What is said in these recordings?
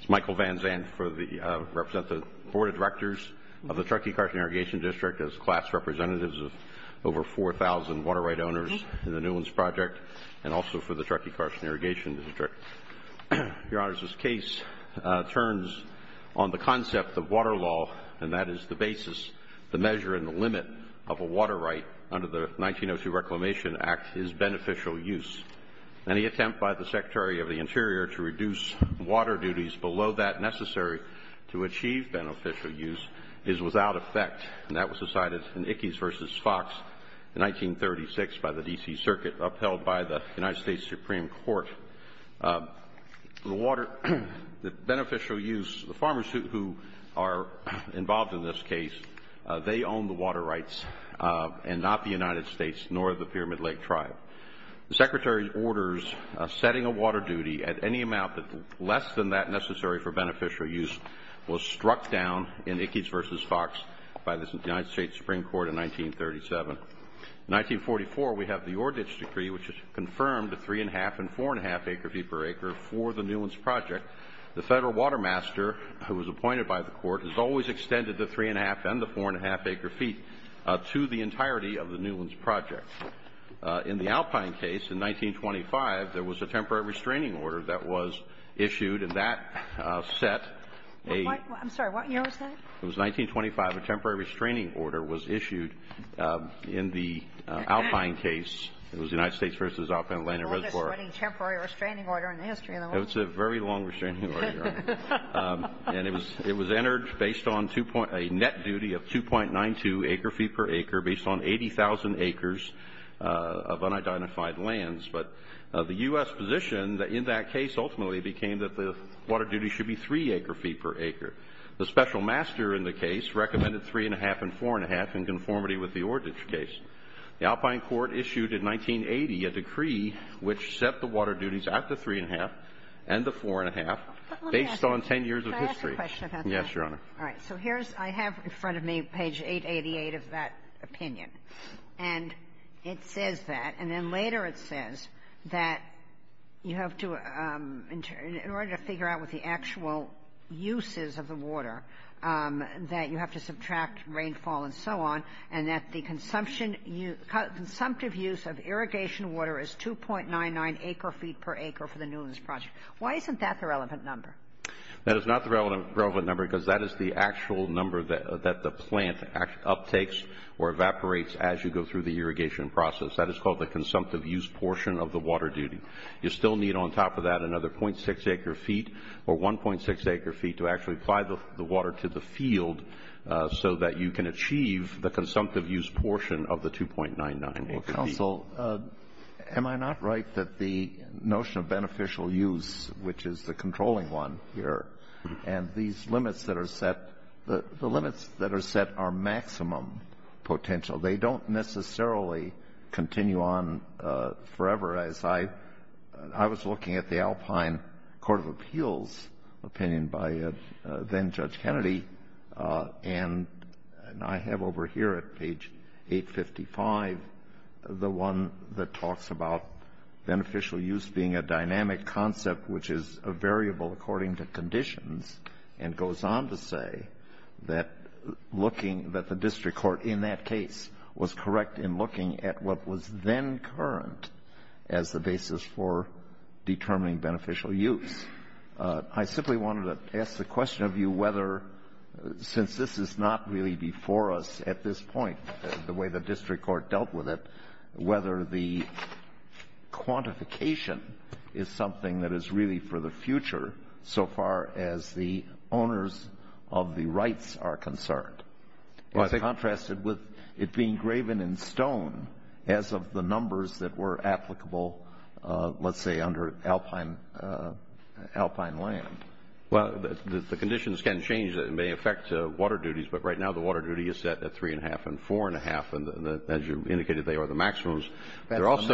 It's Michael Van Zandt for the Board of Directors of the Truckee Carson Irrigation District as class representatives of over 4,000 water right owners in the Newlands Project and also for the Truckee Carson Irrigation District. Your Honor, this case turns on the concept of water law, and that is the basis, the measure and the limit of a water right under the 1902 Reclamation Act is beneficial use. Any attempt by the Secretary of the Interior to reduce water duties below that necessary to achieve beneficial use is without effect, and that was decided in Ickes v. Fox in 1936 by the D.C. Circuit upheld by the United States Supreme Court. The beneficial use, the farmers who are involved in this case, they own the water rights and not the United States nor the Pyramid Lake Tribe. The Secretary's orders setting a water duty at any amount less than that necessary for beneficial use was struck down in Ickes v. Fox by the United States Supreme Court in 1937. In 1944, we have the Ordich Decree, which has confirmed the 3 1⁄2 and 4 1⁄2 acre feet per acre for the Newlands Project. The Federal Water Master, who was appointed by the Court, has always extended the 3 1⁄2 and the 4 1⁄2 acre feet to the entirety of the Newlands Project. In the Alpine case, in 1925, there was a temporary restraining order that was issued, and that set a — I'm sorry. What year was that? It was 1925. A temporary restraining order was issued in the Alpine case. It was the United States v. Alpine Land and Reservoir. The longest-running temporary restraining order in the history of the Land and Reservoir. It's a very long restraining order, Your Honor. And it was entered based on a net duty of 2.92 acre feet per acre based on 80,000 acres of unidentified lands. But the U.S. position in that case ultimately became that the water duty should be 3 acre feet per acre. The Special Master in the case recommended 3 1⁄2 and 4 1⁄2 in conformity with the Ordich case. The Alpine Court issued in 1980 a decree which set the water duties at the 3 1⁄2 and the 4 1⁄2 based on 10 years of history. Let me ask you a question about that. Yes, Your Honor. All right. So here's ‑‑ I have in front of me page 888 of that opinion. And it says that, and then later it says that you have to ‑‑ in order to figure out what the actual use is of the water, that you have to subtract rainfall and so on, and that the consumptive use of irrigation water is 2.99 acre feet per acre for the Newlands Project. Why isn't that the relevant number? That is not the relevant number because that is the actual number that the plant uptakes or evaporates as you go through the irrigation process. That is called the consumptive use portion of the water duty. You still need on top of that another .6 acre feet or 1.6 acre feet to actually apply the water to the field so that you can achieve the consumptive use portion of the 2.99 acre feet. Counsel, am I not right that the notion of beneficial use, which is the controlling one here, and these limits that are set, the limits that are set are maximum potential. They don't necessarily continue on forever, as I was looking at the Alpine Court of Appeals opinion by then Judge Kennedy, and I have over here at page 855 the one that talks about beneficial use being a dynamic concept which is a variable according to conditions and goes on to say that looking, that the district court in that case was correct in looking at what was then current as the basis for determining beneficial use. I simply wanted to ask the question of you whether, since this is not really before us at this point, the way the district court dealt with it, whether the quantification is something that is really for the future so far as the owners of the rights are concerned. In contrast with it being graven in stone as of the numbers that were applicable, let's say, under Alpine land. Well, the conditions can change. It may affect water duties, but right now the water duty is set at three and a half and four and a half, and as you indicated, they are the maximums, but they're also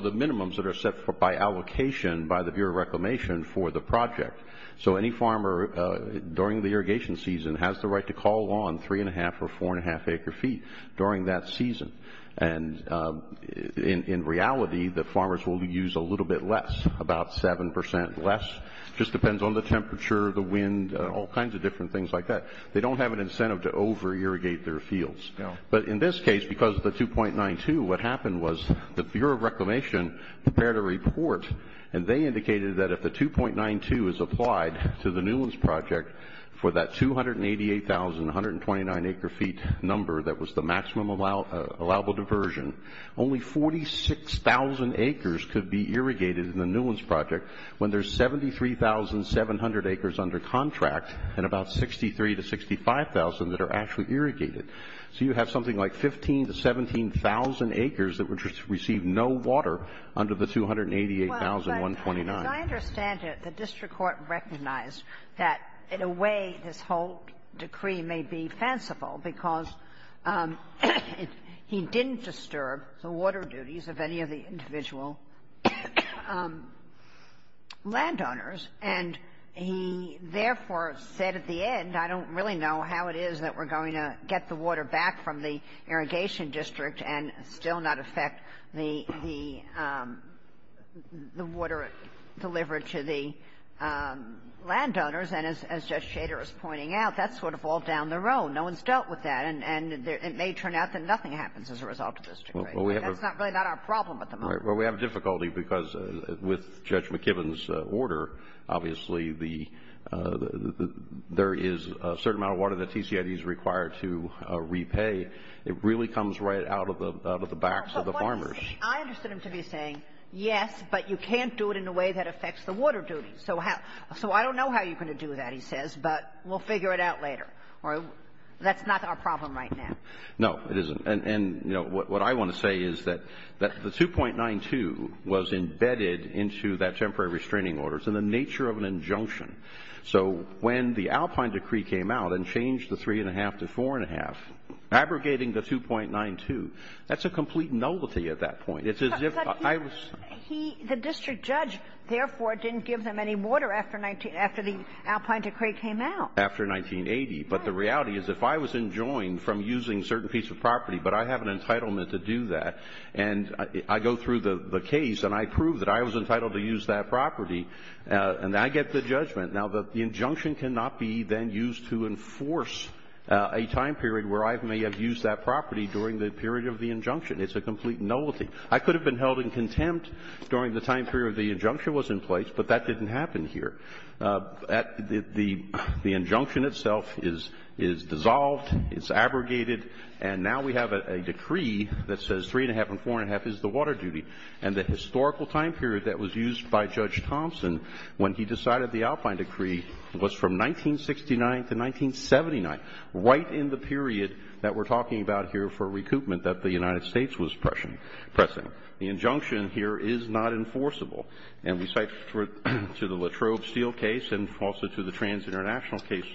the minimums that are set by allocation by the Bureau of Reclamation for the project. So any farmer during the irrigation season has the right to call on three and a half or four and a half acre feet during that season, and in reality, the farmers will use a little bit less, about 7% less, just depends on the temperature, the wind, all kinds of different things like that. They don't have an incentive to over-irrigate their fields. But in this case, because of the 2.92, what happened was the Bureau of Reclamation prepared a report, and they indicated that if the 2.92 is applied to the Newlands project for that 288,129 acre feet number that was the maximum allowable diversion, only 46,000 acres could be irrigated in the Newlands project when there's 73,700 acres under contract and about 63,000 to 65,000 that are actually irrigated. So you have something like 15,000 to 17,000 acres that would receive no water under the 288,129. Ginsburg. Well, but as I understand it, the district court recognized that in a way this whole decree may be fanciful because he didn't disturb the water duties of any of the individual landowners, and he therefore said at the end, I don't really know how it is that we're going to get the water back from the irrigation district and still not affect the water delivered to the landowners. And as Judge Shader is pointing out, that's sort of all down the road. No one's dealt with that. And it may turn out that nothing happens as a result of this decree. That's really not our problem at the moment. Well, we have difficulty because with Judge McKibben's order, obviously, there is a certain amount of water that TCID is required to repay. It really comes right out of the backs of the farmers. I understood him to be saying, yes, but you can't do it in a way that affects the water duties. So I don't know how you're going to do that, he says, but we'll figure it out later. That's not our problem right now. No, it isn't. And, you know, what I want to say is that the 2.92 was embedded into that temporary restraining orders in the nature of an injunction. So when the Alpine decree came out and changed the three and a half to four and a half, abrogating the 2.92, that's a complete nullity at that point. It's as if I was. The district judge, therefore, didn't give them any water after the Alpine decree came out. After 1980. But the reality is, if I was enjoined from using a certain piece of property, but I have an entitlement to do that, and I go through the case and I prove that I was entitled to use that property, and I get the judgment. Now, the injunction cannot be then used to enforce a time period where I may have used that property during the period of the injunction. It's a complete nullity. I could have been held in contempt during the time period the injunction was in place, but that didn't happen here. The injunction itself is dissolved, it's abrogated, and now we have a decree that says three and a half and four and a half is the water duty. And the historical time period that was used by Judge Thompson when he decided the Alpine decree was from 1969 to 1979, right in the period that we're talking about here for recoupment that the United States was pressing. The injunction here is not enforceable. And we cite to the Latrobe Steele case and also to the Trans-International case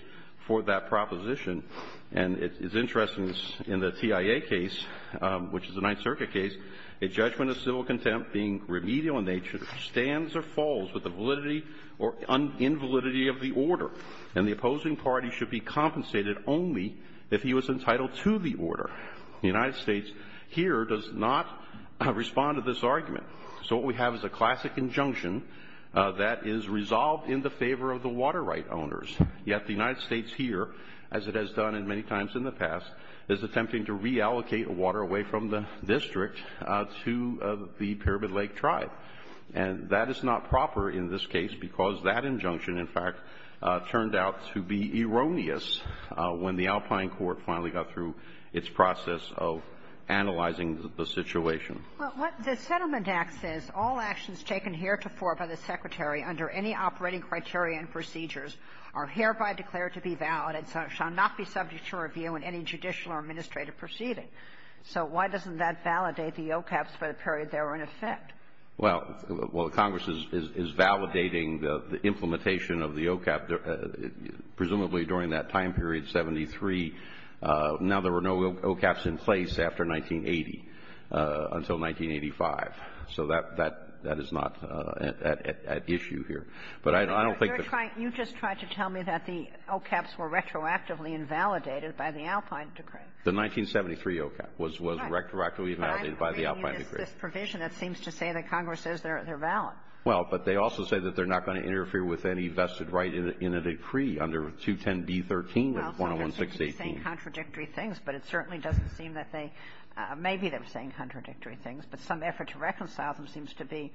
for that proposition, and it's interesting in the TIA case, which is a Ninth Circuit case, a judgment of civil contempt being remedial in nature, stands or falls with the validity or invalidity of the order, and the opposing party should be compensated only if he was entitled to the order. The United States here does not respond to this argument. So what we have is a classic injunction that is resolved in the favor of the water right owners, yet the United States here, as it has done many times in the past, is attempting to reallocate water away from the district to the Pyramid Lake Tribe. And that is not proper in this case because that injunction, in fact, turned out to be erroneous when the Alpine court finally got through its process of analyzing the situation. Well, what the Settlement Act says, all actions taken heretofore by the Secretary under any operating criteria and procedures are hereby declared to be valid and shall not be subject to review in any judicial or administrative proceeding. So why doesn't that validate the OCAPs for the period they were in effect? Well, while Congress is validating the implementation of the OCAP, presumably during that time period, 73, now there were no OCAPs in place after 1980. Until 1985. So that is not at issue here. But I don't think that the 1973 OCAP was retroactively invalidated by the Alpine decree. But I agree with this provision that seems to say that Congress says they're valid. Well, but they also say that they're not going to interfere with any vested right in a decree under 210B.13, 101.618. Well, so we're saying contradictory things, but it certainly doesn't seem that they are. Maybe they're saying contradictory things, but some effort to reconcile them seems to be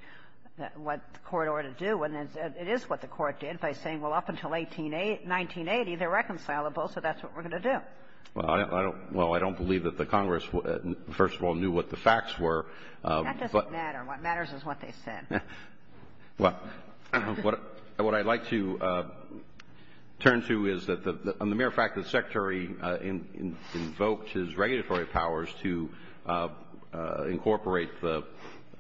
what the Court ought to do, and it is what the Court did by saying, well, up until 1980, they're reconcilable, so that's what we're going to do. Well, I don't believe that the Congress, first of all, knew what the facts were. That doesn't matter. What matters is what they said. Well, what I'd like to turn to is that, on the mere fact that the Secretary invoked his regulatory powers to incorporate the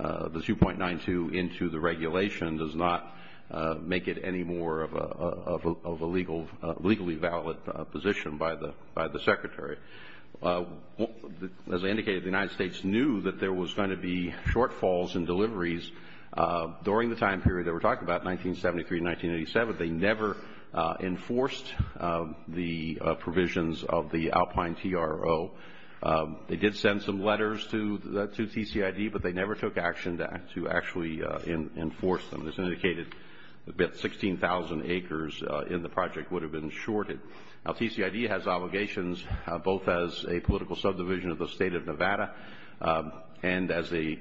2.92 into the regulation does not make it any more of a legally valid position by the Secretary. As I indicated, the United States knew that there was going to be shortfalls in deliveries during the time period that we're talking about, 1973 to 1987. They never enforced the provisions of the Alpine TRO. They did send some letters to TCID, but they never took action to actually enforce them. As indicated, 16,000 acres in the project would have been shorted. Now, TCID has obligations both as a political subdivision of the State of Nevada and as a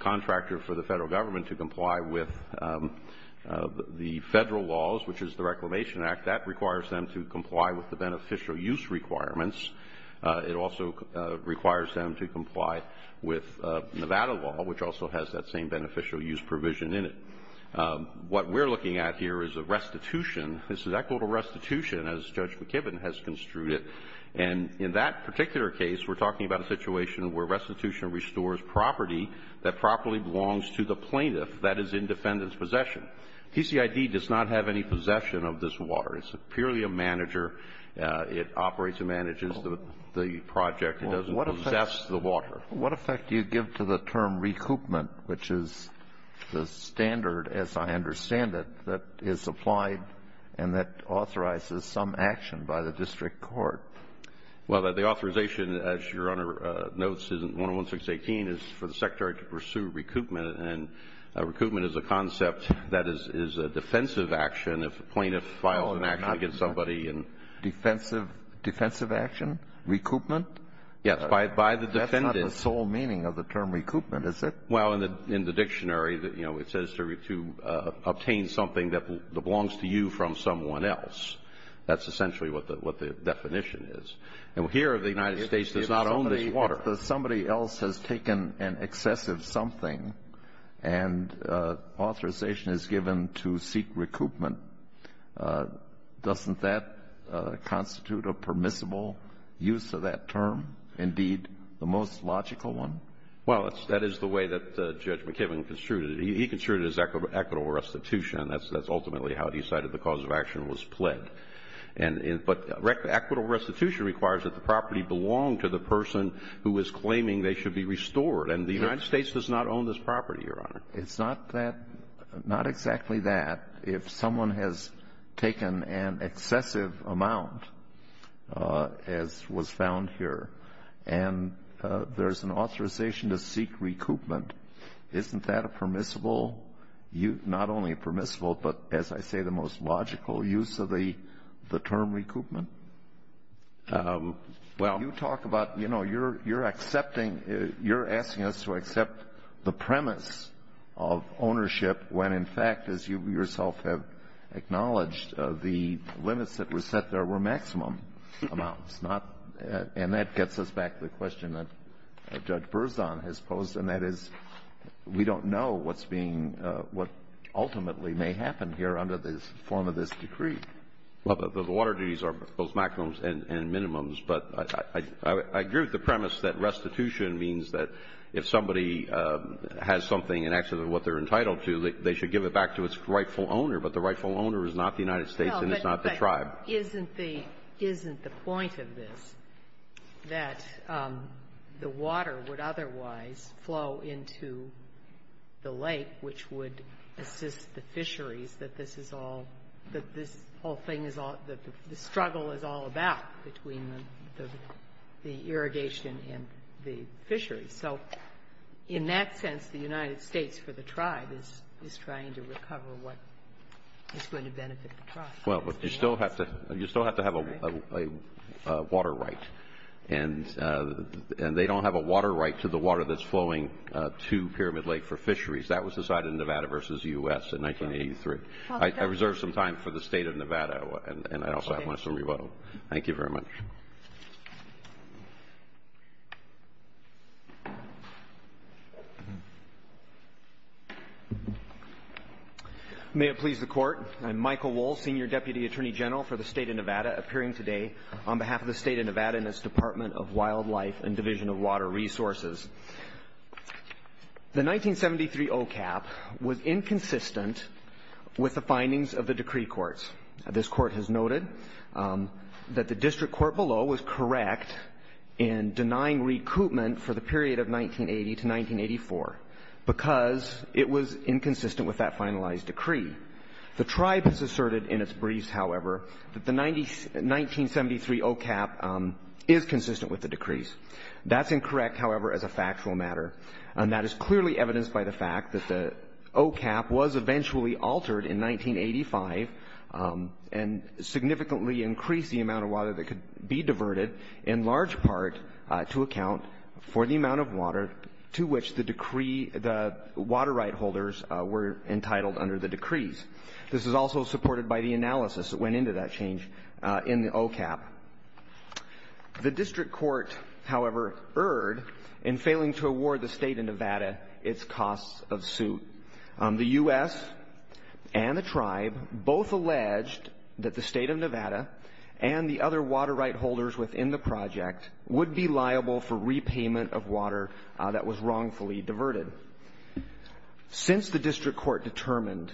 contractor for the federal government to comply with the federal laws, which is the Reclamation Act. That requires them to comply with the beneficial use requirements. It also requires them to comply with Nevada law, which also has that same beneficial use provision in it. What we're looking at here is a restitution. This is equitable restitution, as Judge McKibbin has construed it. And in that particular case, we're talking about a situation where restitution restores property that properly belongs to the plaintiff that is in defendant's possession. TCID does not have any possession of this water. It's purely a manager. It operates and manages the project. It doesn't possess the water. What effect do you give to the term recoupment, which is the standard, as I understand it, that is applied and that authorizes some action by the district court? Well, the authorization, as Your Honor notes, is in 101-618, is for the Secretary to pursue recoupment. And recoupment is a concept that is a defensive action if a plaintiff files an action against somebody. Defensive action? Recoupment? Yes, by the defendant. That's not the sole meaning of the term recoupment, is it? Well, in the dictionary, you know, it says to obtain something that belongs to you from someone else. That's essentially what the definition is. And here, the United States does not own this water. But if somebody else has taken an excessive something and authorization is given to seek recoupment, doesn't that constitute a permissible use of that term? Indeed, the most logical one? Well, that is the way that Judge McKibbin construed it. He construed it as equitable restitution, and that's ultimately how he cited the cause of action was plagued. But equitable restitution requires that the property belong to the person who is claiming they should be restored. And the United States does not own this property, Your Honor. It's not exactly that. If someone has taken an excessive amount, as was found here, and there's an authorization to seek recoupment, isn't that a permissible use? Not only permissible, but, as I say, the most logical use of the term recoupment? Well, you talk about, you know, you're accepting, you're asking us to accept the premise of ownership when, in fact, as you yourself have acknowledged, the limits that were set there were maximum amounts. And that gets us back to the question that Judge Berzon has posed, and that is we don't know what's being, what ultimately may happen here under the form of this decree. Well, the water duties are both maximums and minimums. But I agree with the premise that restitution means that if somebody has something in excess of what they're entitled to, they should give it back to its rightful owner. But the rightful owner is not the United States, and it's not the tribe. Isn't the point of this that the water would otherwise flow into the lake, which would assist the fisheries, that this is all, that this whole thing is all, the struggle is all about between the irrigation and the fisheries? So in that sense, the United States for the tribe is trying to recover what is going to benefit the tribe. Well, but you still have to have a water right. And they don't have a water right to the water that's flowing to Pyramid Lake for fisheries. That was decided in Nevada versus U.S. in 1983. I reserve some time for the State of Nevada, and I also have my summary vote. Thank you very much. May it please the Court. I'm Michael Wohl, Senior Deputy Attorney General for the State of Nevada, appearing today on behalf of the State of Nevada and its Department of Wildlife and Division of Water Resources. The 1973 OCAP was inconsistent with the findings of the decree courts. This Court has noted that the district court below was correct in denying recoupment for the period of 1980 to 1984 because it was inconsistent with that finalized decree. The tribe has asserted in its briefs, however, that the 1973 OCAP is consistent with the decrees. That's incorrect, however, as a factual matter. And that is clearly evidenced by the fact that the OCAP was eventually altered in 1985 and significantly increased the amount of water that could be diverted in large part to account for the amount of water to which the water right holders were entitled under the decrees. This is also supported by the analysis that went into that change in the OCAP. The district court, however, erred in failing to award the State of Nevada its costs of suit. The U.S. and the tribe both alleged that the State of Nevada and the other water right holders within the project would be liable for repayment of water that was wrongfully diverted. Since the district court determined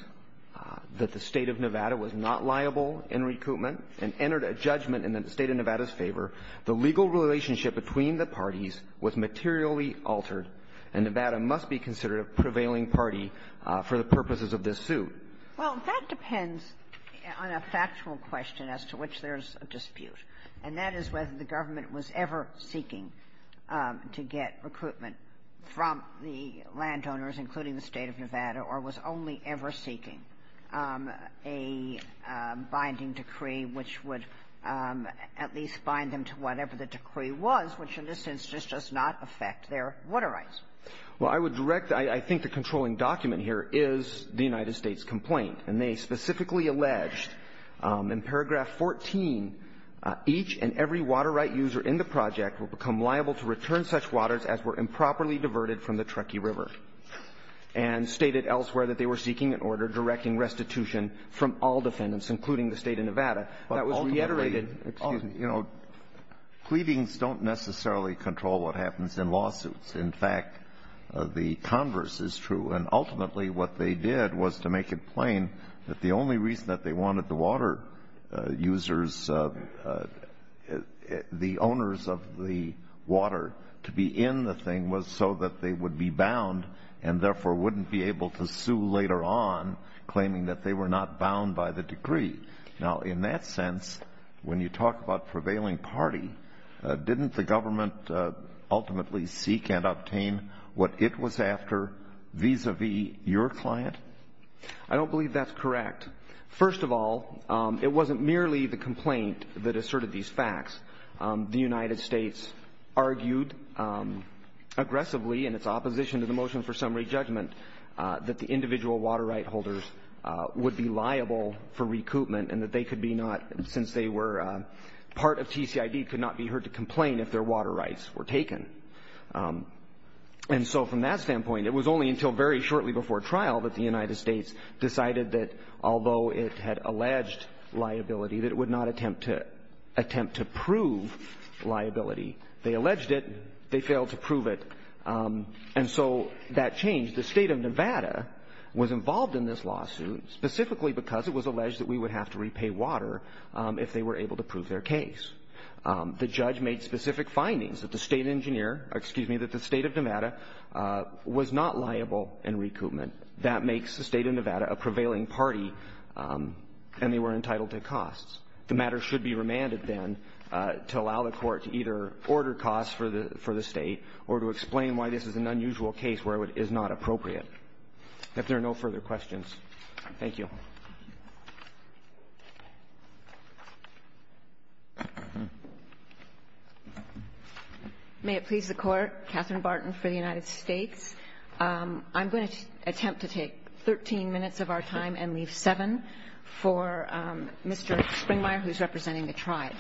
that the State of Nevada was not liable in recoupment and entered a judgment in the State of Nevada's favor, the legal relationship between the parties was materially altered, and Nevada must be considered a prevailing party for the purposes of this suit. Well, that depends on a factual question as to which there's a dispute, and that is whether the government was ever seeking to get recruitment from the landowners, including the State of Nevada, or was only ever seeking a binding decree which would at least bind them to whatever the decree was, which in a sense just does not affect their water rights. Well, I would direct that I think the controlling document here is the United Alleged in paragraph 14, each and every water right user in the project will become liable to return such waters as were improperly diverted from the Truckee River, and stated elsewhere that they were seeking an order directing restitution from all defendants, including the State of Nevada. That was reiterated. But ultimately, excuse me, you know, pleadings don't necessarily control what happens in lawsuits. In fact, the converse is true. And ultimately, what they did was to make it plain that the only reason that they wanted the water users, the owners of the water, to be in the thing was so that they would be bound and therefore wouldn't be able to sue later on, claiming that they were not bound by the decree. Now, in that sense, when you talk about prevailing party, didn't the government ultimately seek and obtain what it was after vis-a-vis your client? I don't believe that's correct. First of all, it wasn't merely the complaint that asserted these facts. The United States argued aggressively in its opposition to the motion for summary judgment that the individual water right holders would be liable for recoupment and that they could be not, since they were part of TCID, could not be heard to complain if their water rights were taken. And so from that standpoint, it was only until very shortly before trial that the United States decided that although it had alleged liability, that it would not attempt to prove liability. They alleged it. They failed to prove it. And so that changed. The state of Nevada was involved in this lawsuit specifically because it was alleged that we would have to repay water if they were able to prove their case. The judge made specific findings that the state engineer, excuse me, that the state of Nevada was not liable in recoupment. That makes the state of Nevada a prevailing party and they were entitled to costs. The matter should be remanded then to allow the court to either order costs for the state or to explain why this is an unusual case where it is not appropriate. If there are no further questions, thank you. May it please the Court. Catherine Barton for the United States. I'm going to attempt to take 13 minutes of our time and leave seven for Mr. Springmeyer, who is representing the tribe.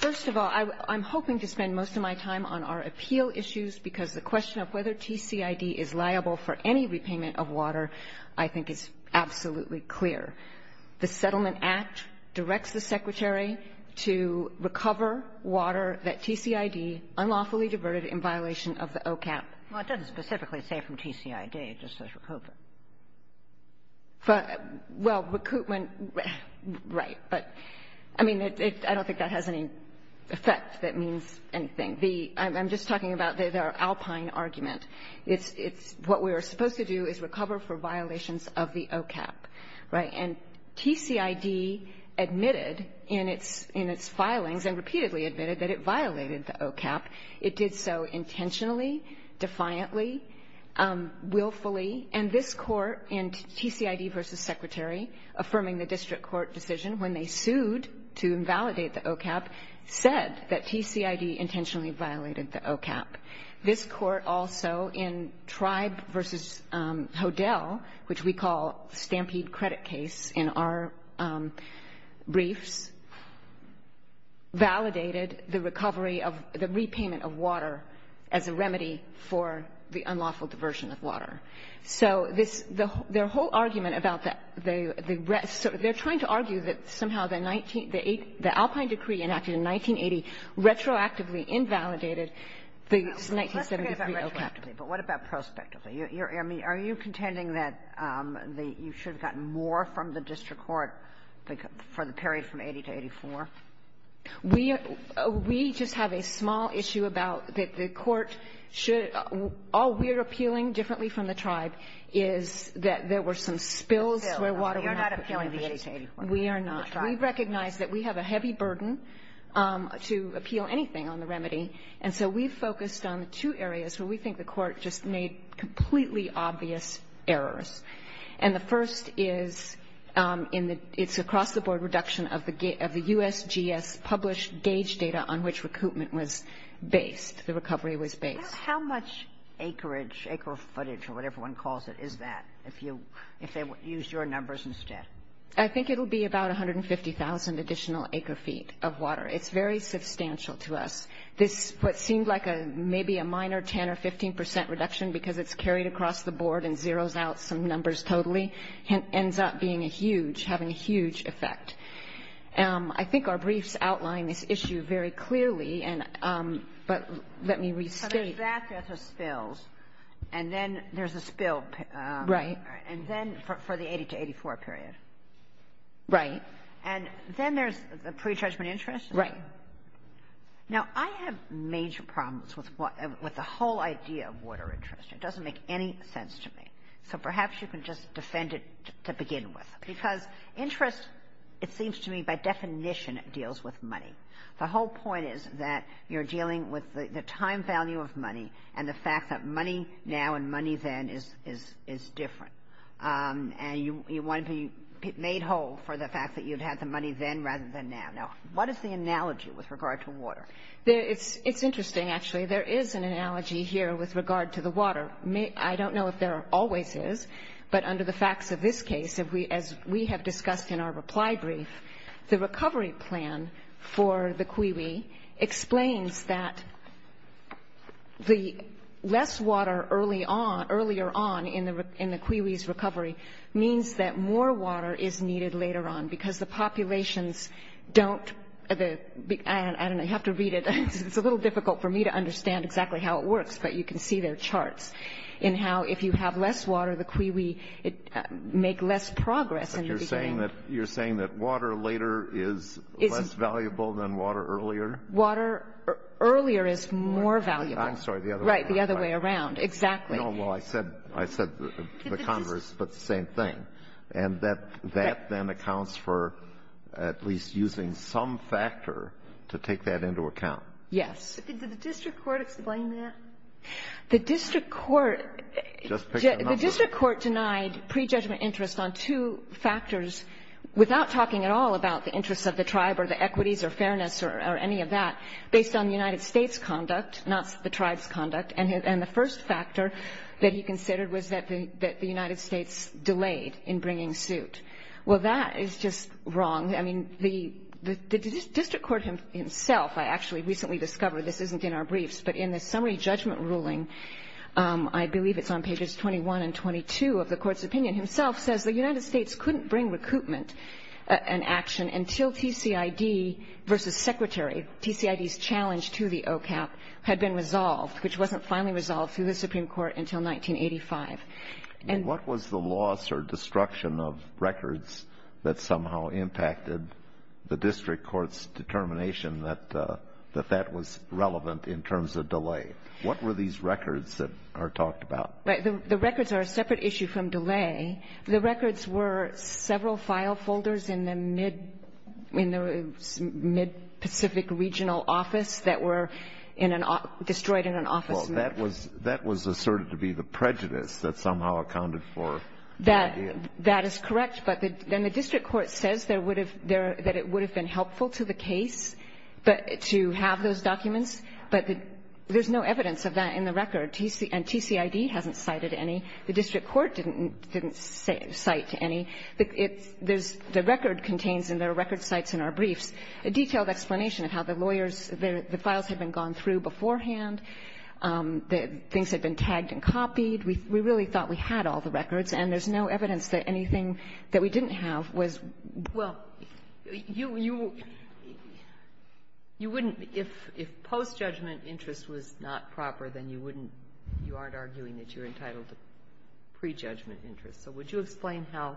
First of all, I'm hoping to spend most of my time on our appeal issues because the question of whether TCID is liable for any repayment of water I think is absolutely clear. The Settlement Act directs the Secretary to recover water that TCID unlawfully diverted in violation of the OCAP. Well, it doesn't specifically say from TCID. It just says recoupment. Well, recoupment, right, but I mean, I don't think that has any effect that means anything. I'm just talking about the alpine argument. It's what we are supposed to do is recover for violations of the OCAP, right? And TCID admitted in its filings and repeatedly admitted that it violated the OCAP. It did so intentionally, defiantly, willfully, and this Court in TCID v. Secretary affirming the district court decision when they sued to invalidate the OCAP said that TCID intentionally violated the OCAP. This Court also in Tribe v. Hodel, which we call stampede credit case in our briefs, validated the recovery of the repayment of water as a remedy for the unlawful diversion of water. So this, their whole argument about the, they're trying to argue that somehow the 1973 OCAP. Let's forget about retroactively, but what about prospectively? I mean, are you contending that you should have gotten more from the district court for the period from 80 to 84? We just have a small issue about that the court should, all we're appealing differently from the Tribe is that there were some spills where water went up. You're not appealing the 80 to 84. We are not. We recognize that we have a heavy burden to appeal anything on the remedy, and so we focused on two areas where we think the court just made completely obvious errors. And the first is in the, it's across the board reduction of the USGS published gauge data on which recoupment was based, the recovery was based. How much acreage, acre footage or whatever one calls it, is that if you, if they used your numbers instead? I think it'll be about 150,000 additional acre feet of water. It's very substantial to us. This, what seemed like a, maybe a minor 10 or 15 percent reduction because it's carried across the board and zeros out some numbers totally, ends up being a huge, having a huge effect. I think our briefs outline this issue very clearly, and, but let me restate. So there's that, there's the spills, and then there's a spill. Right. And then for the 80 to 84 period. Right. And then there's the pretrudgement interest? Right. Now, I have major problems with the whole idea of water interest. It doesn't make any sense to me. So perhaps you can just defend it to begin with. Because interest, it seems to me, by definition, deals with money. The whole point is that you're dealing with the time value of money and the fact that money now and money then is different. And you want to be made whole for the fact that you'd had the money then rather than now. What is the analogy with regard to water? It's interesting, actually. There is an analogy here with regard to the water. I don't know if there always is, but under the facts of this case, as we have discussed in our reply brief, the recovery plan for the CUIWI explains that the less water earlier on in the CUIWI's recovery means that more water is needed later on. Because the populations don't, I don't know, you have to read it. It's a little difficult for me to understand exactly how it works, but you can see their charts in how if you have less water, the CUIWI make less progress in the beginning. But you're saying that water later is less valuable than water earlier? Water earlier is more valuable. I'm sorry, the other way around. Right, the other way around. Exactly. Well, I said the converse, but the same thing. And that then accounts for at least using some factor to take that into account. Yes. Did the district court explain that? The district court denied prejudgment interest on two factors without talking at all about the interests of the tribe or the equities or fairness or any of that based on the United States' conduct, not the tribe's conduct. And the first factor that he considered was that the United States delayed in bringing suit. Well, that is just wrong. I mean, the district court himself, I actually recently discovered this isn't in our briefs, but in the summary judgment ruling, I believe it's on pages 21 and 22 of the court's opinion, himself says the United States couldn't bring recoupment and action until TCID versus Secretary. TCID's challenge to the OCAP had been resolved, which wasn't finally resolved through the Supreme Court until 1985. And what was the loss or destruction of records that somehow impacted the district court's determination that that was relevant in terms of delay? What were these records that are talked about? The records are a separate issue from delay. The records were several file folders in the mid-Pacific regional office that were destroyed in an office. Well, that was asserted to be the prejudice that somehow accounted for the idea. That is correct. But then the district court says that it would have been helpful to the case to have those documents, but there's no evidence of that in the record. And TCID hasn't cited any. The district court didn't cite any. The record contains, and there are record cites in our briefs, a detailed explanation of how the lawyers, the files had been gone through beforehand, that things had been tagged and copied. We really thought we had all the records, and there's no evidence that anything that we didn't have was. Well, you wouldn't, if post-judgment interest was not proper, then you wouldn't you aren't arguing that you're entitled to prejudgment interest. So would you explain how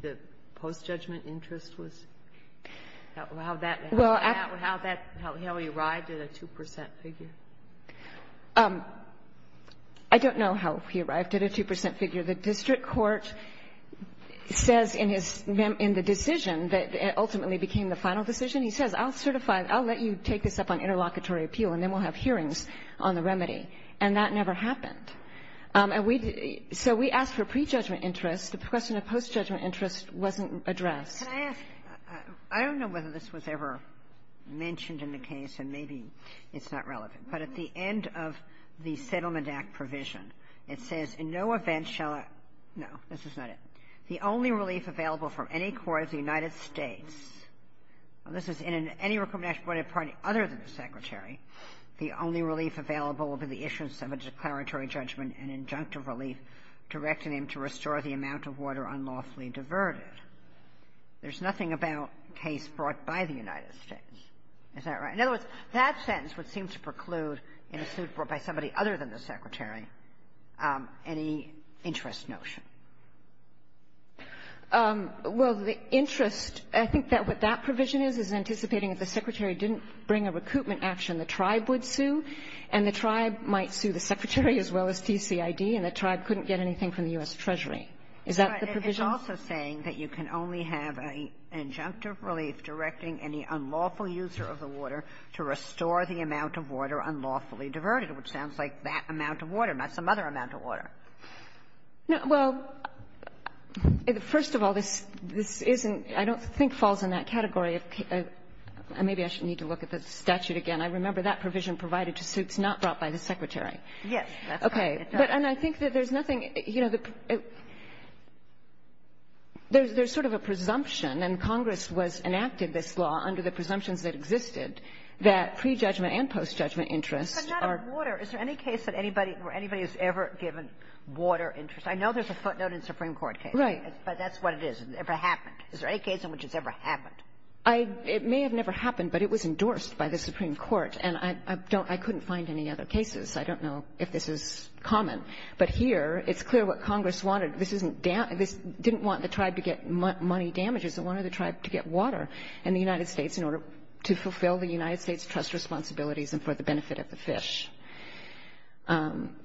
the post-judgment interest was, how that, how he arrived at a 2 percent figure? I don't know how he arrived at a 2 percent figure. The district court says in his, in the decision that ultimately became the final decision, he says, I'll certify, I'll let you take this up on interlocutory appeal, and then we'll have hearings on the remedy. And that never happened. And we, so we asked for prejudgment interest. The question of post-judgment interest wasn't addressed. Can I ask? I don't know whether this was ever mentioned in the case, and maybe it's not relevant. But at the end of the Settlement Act provision, it says, in no event shall I, no, this is not it. The only relief available from any court of the United States, and this is in any other than the Secretary, the only relief available will be the issuance of a declaratory judgment and injunctive relief directing him to restore the amount of water unlawfully diverted. There's nothing about a case brought by the United States. Is that right? In other words, that sentence would seem to preclude, in a suit brought by somebody other than the Secretary, any interest notion. Well, the interest, I think that what that provision is, is anticipating if the Secretary didn't bring a recoupment action, the tribe would sue, and the tribe might sue the Secretary as well as TCID, and the tribe couldn't get anything from the U.S. Treasury. Is that the provision? It's also saying that you can only have an injunctive relief directing any unlawful user of the water to restore the amount of water unlawfully diverted, which sounds like that amount of water, not some other amount of water. Well, first of all, this isn't, I don't think falls in that category. Maybe I should need to look at the statute again. I remember that provision provided to suits not brought by the Secretary. Yes, that's right. Okay. And I think that there's nothing, you know, there's sort of a presumption, and Congress was enacted this law under the presumptions that existed, that pre-judgment and post-judgment interest are. Is there any case where anybody has ever given water interest? I know there's a footnote in the Supreme Court case. Right. But that's what it is. It never happened. Is there any case in which it's ever happened? It may have never happened, but it was endorsed by the Supreme Court, and I couldn't find any other cases. I don't know if this is common. But here, it's clear what Congress wanted. This didn't want the tribe to get money damages. It wanted the tribe to get water in the United States in order to fulfill the United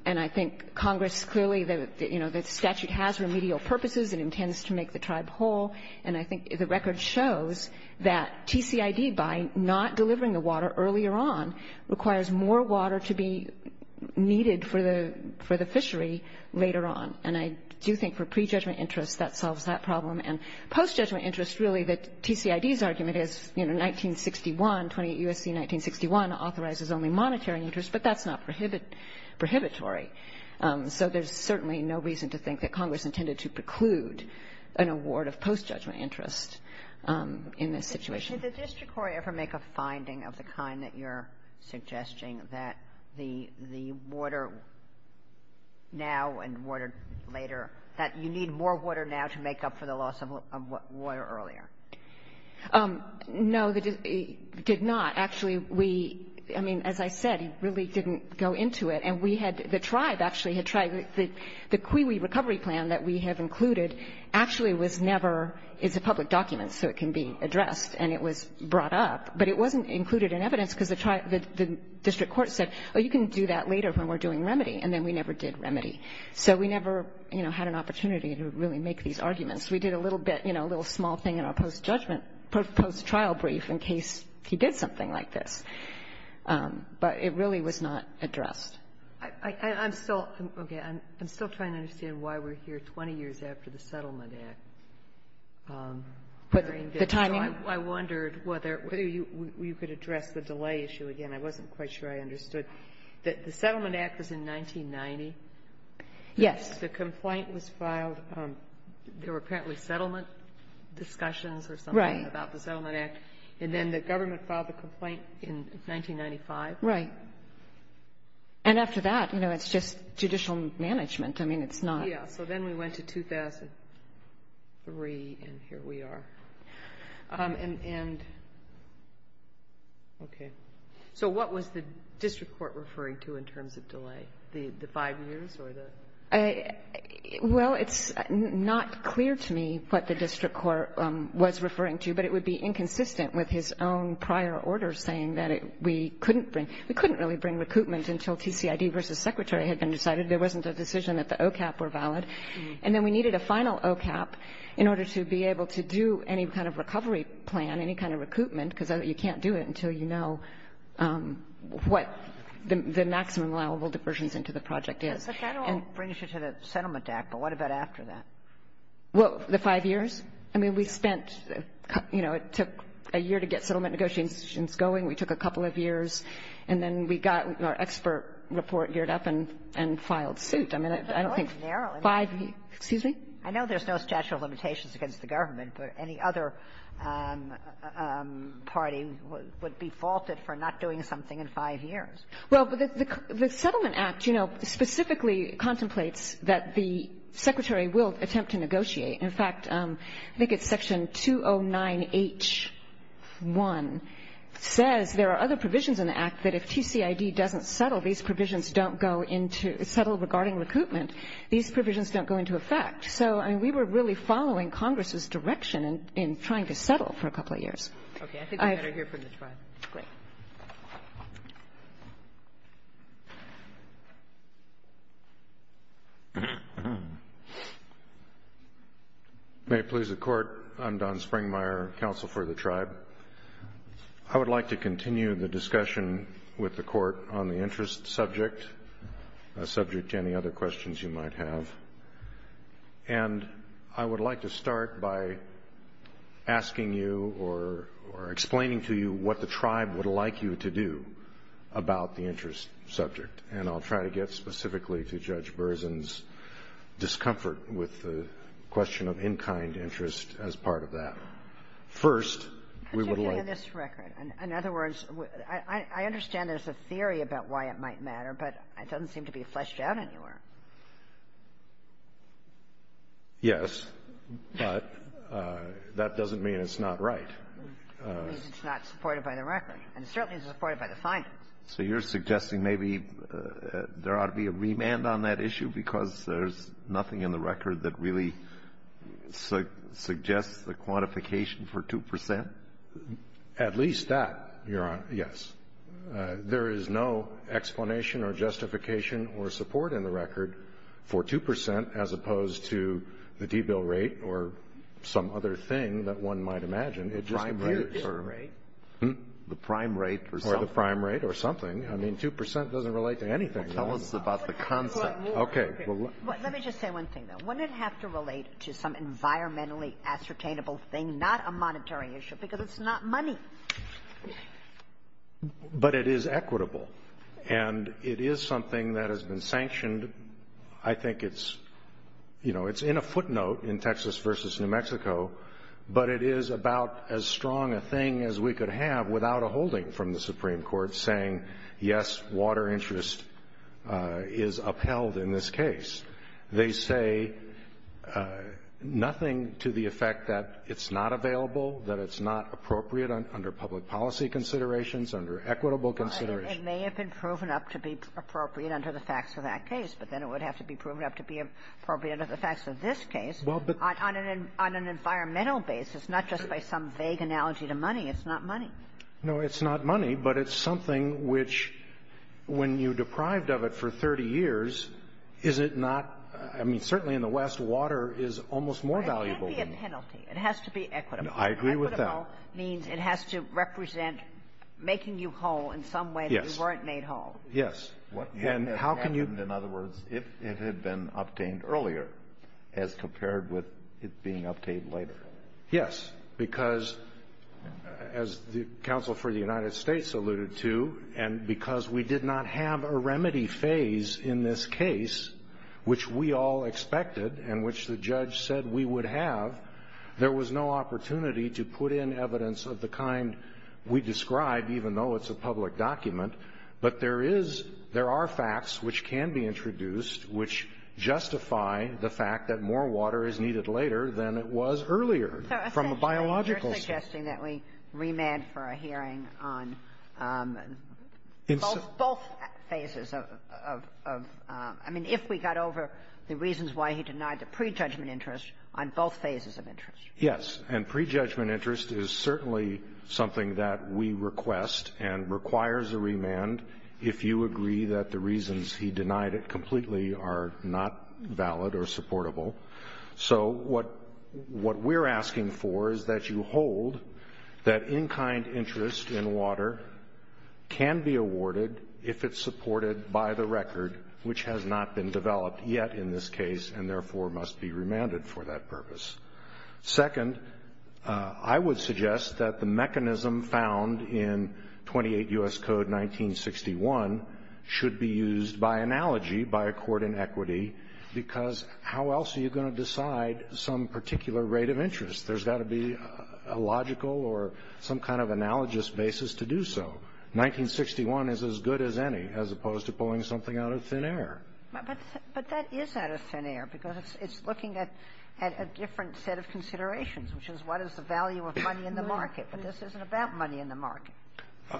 And I think Congress clearly, you know, the statute has remedial purposes. It intends to make the tribe whole. And I think the record shows that TCID, by not delivering the water earlier on, requires more water to be needed for the fishery later on. And I do think for pre-judgment interest, that solves that problem. And post-judgment interest, really, the TCID's argument is, you know, 1961, 28 U.S.C. 1961 authorizes only monetary interest, but that's not prohibitory. So there's certainly no reason to think that Congress intended to preclude an award of post-judgment interest in this situation. Did the district court ever make a finding of the kind that you're suggesting, that the water now and water later, that you need more water now to make up for the loss of water earlier? No, it did not. Actually, we, I mean, as I said, really didn't go into it. And we had, the tribe actually had tried, the CUI recovery plan that we have included actually was never, is a public document, so it can be addressed. And it was brought up. But it wasn't included in evidence because the district court said, oh, you can do that later when we're doing remedy. And then we never did remedy. So we never, you know, had an opportunity to really make these arguments. We did a little bit, you know, a little small thing in our post-judgment, post-trial brief in case he did something like this. But it really was not addressed. I'm still, okay, I'm still trying to understand why we're here 20 years after the Settlement Act. The timing? I wondered whether you could address the delay issue again. I wasn't quite sure I understood. The Settlement Act was in 1990. Yes. The complaint was filed. There were apparently settlement discussions or something about the Settlement Act. Right. And then the government filed the complaint in 1995. Right. And after that, you know, it's just judicial management. I mean, it's not. Yeah. So then we went to 2003, and here we are. And, okay. So what was the district court referring to in terms of delay, the five years or the? Well, it's not clear to me what the district court was referring to, but it would be inconsistent with his own prior order saying that we couldn't bring, we couldn't really bring recoupment until TCID versus Secretary had been decided. There wasn't a decision that the OCAP were valid. And then we needed a final OCAP in order to be able to do any kind of recovery plan, any kind of recoupment, because you can't do it until you know what the maximum allowable diversions into the project is. But that all brings you to the Settlement Act. But what about after that? Well, the five years? I mean, we spent, you know, it took a year to get settlement negotiations going. We took a couple of years. And then we got our expert report geared up and filed suit. I mean, I don't think five years. I know there's no statute of limitations against the government, but any other party would be faulted for not doing something in five years. Well, the Settlement Act, you know, specifically contemplates that the Secretary will attempt to negotiate. In fact, I think it's Section 209H1 says there are other provisions in the Act that if TCID doesn't settle, these provisions don't go into, settle regarding recoupment, these provisions don't go into effect. So, I mean, we were really following Congress's direction in trying to settle for a couple of years. Okay. I think we better hear from the Tribe. Great. Thank you. May it please the Court, I'm Don Springmeyer, Counsel for the Tribe. I would like to continue the discussion with the Court on the interest subject, subject to any other questions you might have. And I would like to start by asking you or explaining to you what the Tribe would like you to do about the interest subject. And I'll try to get specifically to Judge Berzin's discomfort with the question of in-kind interest as part of that. First, we would like to ---- Particularly in this record. In other words, I understand there's a theory about why it might matter, but it doesn't seem to be fleshed out anywhere. Yes, but that doesn't mean it's not right. It means it's not supported by the record. And it certainly isn't supported by the findings. So you're suggesting maybe there ought to be a remand on that issue because there's nothing in the record that really suggests the quantification for 2 percent? At least that, Your Honor, yes. There is no explanation or justification or support in the record for 2 percent as opposed to the debill rate or some other thing that one might imagine. It just appears. The prime rate or something. Or the prime rate or something. I mean, 2 percent doesn't relate to anything. Well, tell us about the concept. Okay. Let me just say one thing, though. Wouldn't it have to relate to some environmentally ascertainable thing, not a monetary issue, because it's not money? But it is equitable. And it is something that has been sanctioned. I think it's, you know, it's in a footnote in Texas versus New Mexico, but it is about as strong a thing as we could have without a holding from the Supreme Court saying, yes, water interest is upheld in this case. They say nothing to the effect that it's not available, that it's not appropriate under public policy considerations, under equitable considerations. It may have been proven up to be appropriate under the facts of that case, but then it would have to be proven up to be appropriate under the facts of this case on an environmental basis, not just by some vague analogy to money. It's not money. No, it's not money, but it's something which, when you're deprived of it for 30 years, is it not – I mean, certainly in the West, water is almost more valuable. It can't be a penalty. It has to be equitable. I agree with that. It has to be equitable means it has to represent making you whole in some way that you weren't made whole. Yes. Yes. And how can you – What would have happened, in other words, if it had been obtained earlier as compared with it being obtained later? Yes. Because, as the counsel for the United States alluded to, and because we did not have a remedy phase in this case, which we all expected and which the judge said we would have, there was no opportunity to put in evidence of the kind we described, even though it's a public document. But there is – there are facts which can be introduced which justify the fact that more water is needed later than it was earlier from a biological standpoint. So essentially, you're suggesting that we remand for a hearing on both phases of – I mean, if we got over the reasons why he denied the prejudgment interest on both phases of interest. Yes. And prejudgment interest is certainly something that we request and requires a remand if you agree that the reasons he denied it completely are not valid or supportable. So what we're asking for is that you hold that in-kind interest in water can be awarded if it's supported by the record, which has not been developed yet in this case and therefore must be remanded for that purpose. Second, I would suggest that the mechanism found in 28 U.S. Code 1961 should be used by analogy, by accord in equity, because how else are you going to decide some particular rate of interest? There's got to be a logical or some kind of analogous basis to do so. 1961 is as good as any, as opposed to pulling something out of thin air. But that is out of thin air, because it's looking at a different set of considerations, which is what is the value of money in the market. But this isn't about money in the market.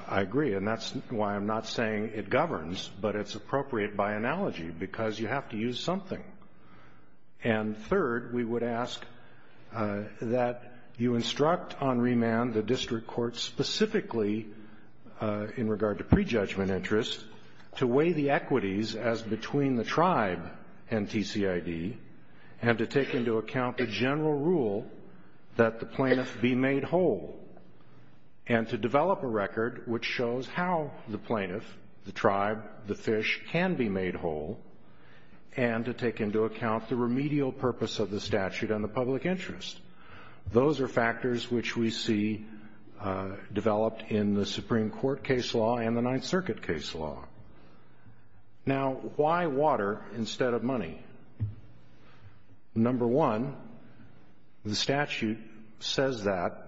I agree. And that's why I'm not saying it governs, but it's appropriate by analogy, because you have to use something. And third, we would ask that you instruct on remand the district court specifically, in regard to prejudgment interest, to weigh the equities as between the tribe and TCID and to take into account the general rule that the plaintiff be made whole and to develop a record which shows how the plaintiff, the tribe, the fish, can be made whole and to take into account the remedial purpose of the statute and the public interest. Those are factors which we see developed in the Supreme Court case law and the Ninth Circuit case law. Now, why water instead of money? Number one, the statute says that,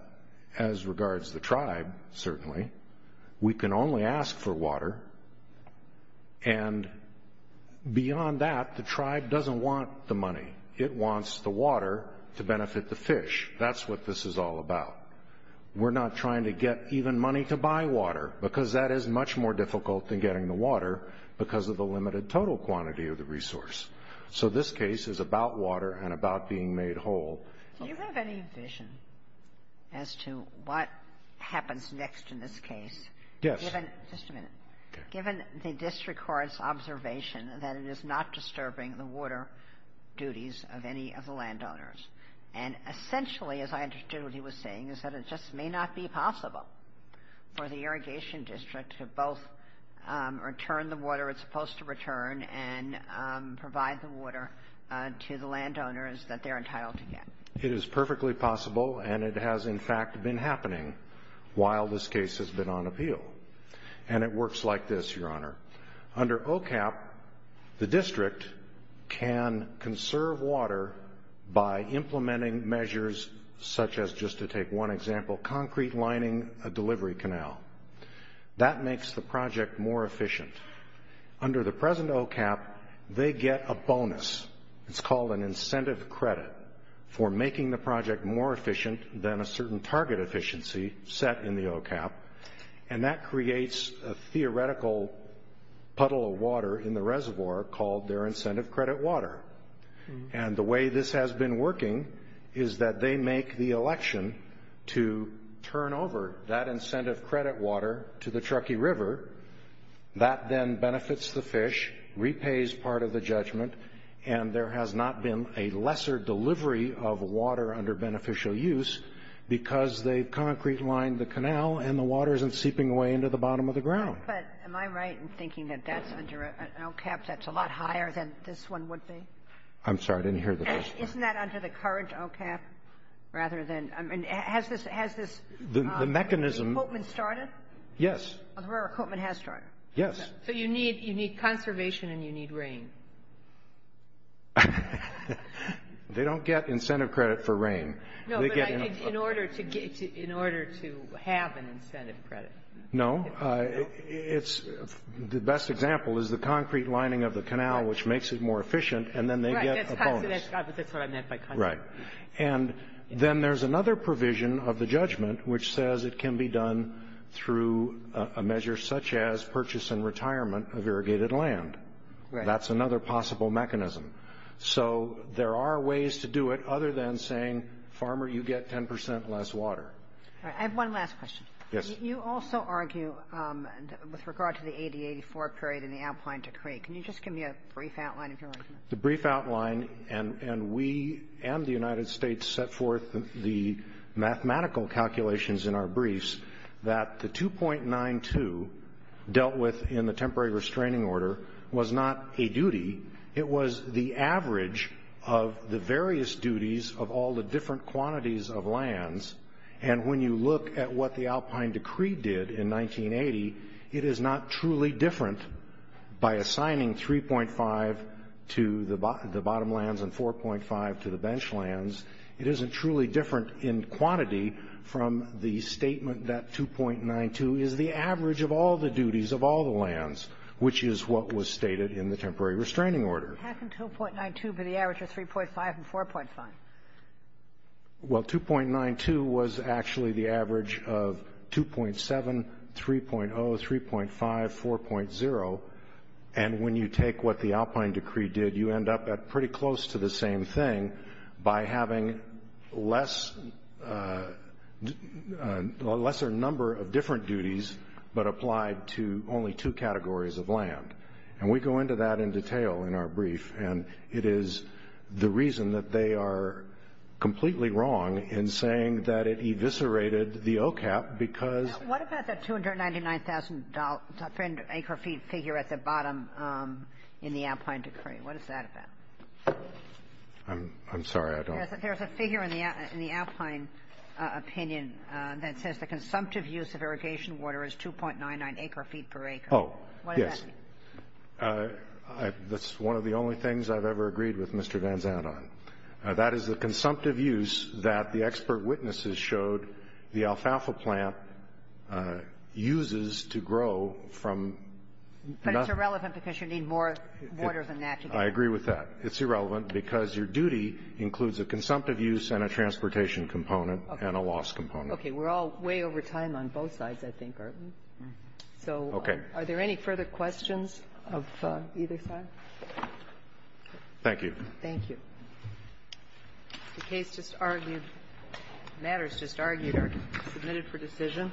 as regards the tribe, certainly, we can only ask for water, and beyond that, the tribe doesn't want the money. It wants the water to benefit the fish. That's what this is all about. We're not trying to get even money to buy water, because that is much more difficult than getting the water because of the limited total quantity of the resource. So this case is about water and about being made whole. Do you have any vision as to what happens next in this case? Yes. Just a minute. Given the district court's observation that it is not disturbing the water duties of any of the landowners, and essentially, as I understood what he was saying, is that it just may not be possible for the irrigation district to both return the water it's supposed to return and provide the water to the landowners that they're entitled to get. It is perfectly possible, and it has, in fact, been happening while this case has been on appeal. And it works like this, Your Honor. Under OCAP, the district can conserve water by implementing measures such as, just to take one example, concrete lining a delivery canal. That makes the project more efficient. Under the present OCAP, they get a bonus. It's called an incentive credit for making the project more efficient than a certain target efficiency set in the OCAP, and that creates a theoretical puddle of water in the reservoir called their incentive credit water. And the way this has been working is that they make the election to turn over that incentive credit water to the Truckee River. That then benefits the fish, repays part of the judgment, and there has not been a lesser delivery of water under beneficial use because they've concrete lined the canal and the water isn't seeping away into the bottom of the ground. But am I right in thinking that that's under an OCAP that's a lot higher than this one would be? I'm sorry. I didn't hear the question. Isn't that under the current OCAP rather than – I mean, has this – The mechanism – Has the recruitment started? Yes. The recruitment has started. Yes. So you need conservation and you need rain. They don't get incentive credit for rain. No, but I think in order to get – in order to have an incentive credit. No. It's – the best example is the concrete lining of the canal, which makes it more efficient, and then they get a bonus. Right. That's what I meant by concrete. Right. And then there's another provision of the judgment which says it can be done through a measure such as purchase and retirement of irrigated land. Right. That's another possible mechanism. So there are ways to do it other than saying, Farmer, you get 10 percent less water. All right. I have one last question. Yes. You also argue with regard to the 80-84 period in the outline decree. Can you just give me a brief outline of your argument? The brief outline – and we and the United States set forth the mathematical calculations in our briefs that the 2.92 dealt with in the temporary restraining order was not a duty. It was the average of the various duties of all the different quantities of lands, and when you look at what the Alpine decree did in 1980, it is not truly different by assigning 3.5 to the bottom lands and 4.5 to the bench lands. It isn't truly different in quantity from the statement that 2.92 is the average of all the duties of all the lands, which is what was stated in the temporary restraining order. How can 2.92 be the average of 3.5 and 4.5? Well, 2.92 was actually the average of 2.7, 3.0, 3.5, 4.0, and when you take what the Alpine decree did, you end up at pretty close to the same thing by having a lesser number of different duties but applied to only two categories of land. And we go into that in detail in our brief, and it is the reason that they are completely wrong in saying that it eviscerated the OCAP because of that. What about that $299,000 per acre feet figure at the bottom in the Alpine decree? What is that about? I'm sorry. There's a figure in the Alpine opinion that says the consumptive use of irrigation water is 2.99 acre feet per acre. Oh, yes. That's one of the only things I've ever agreed with Mr. Vanzant on. That is the consumptive use that the expert witnesses showed the alfalfa plant uses to grow from nothing. But it's irrelevant because you need more water than that to grow. I agree with that. It's irrelevant because your duty includes a consumptive use and a transportation component and a loss component. Okay. We're all way over time on both sides, I think, aren't we? Okay. Are there any further questions of either side? Thank you. Thank you. The case just argued, matters just argued are submitted for decision.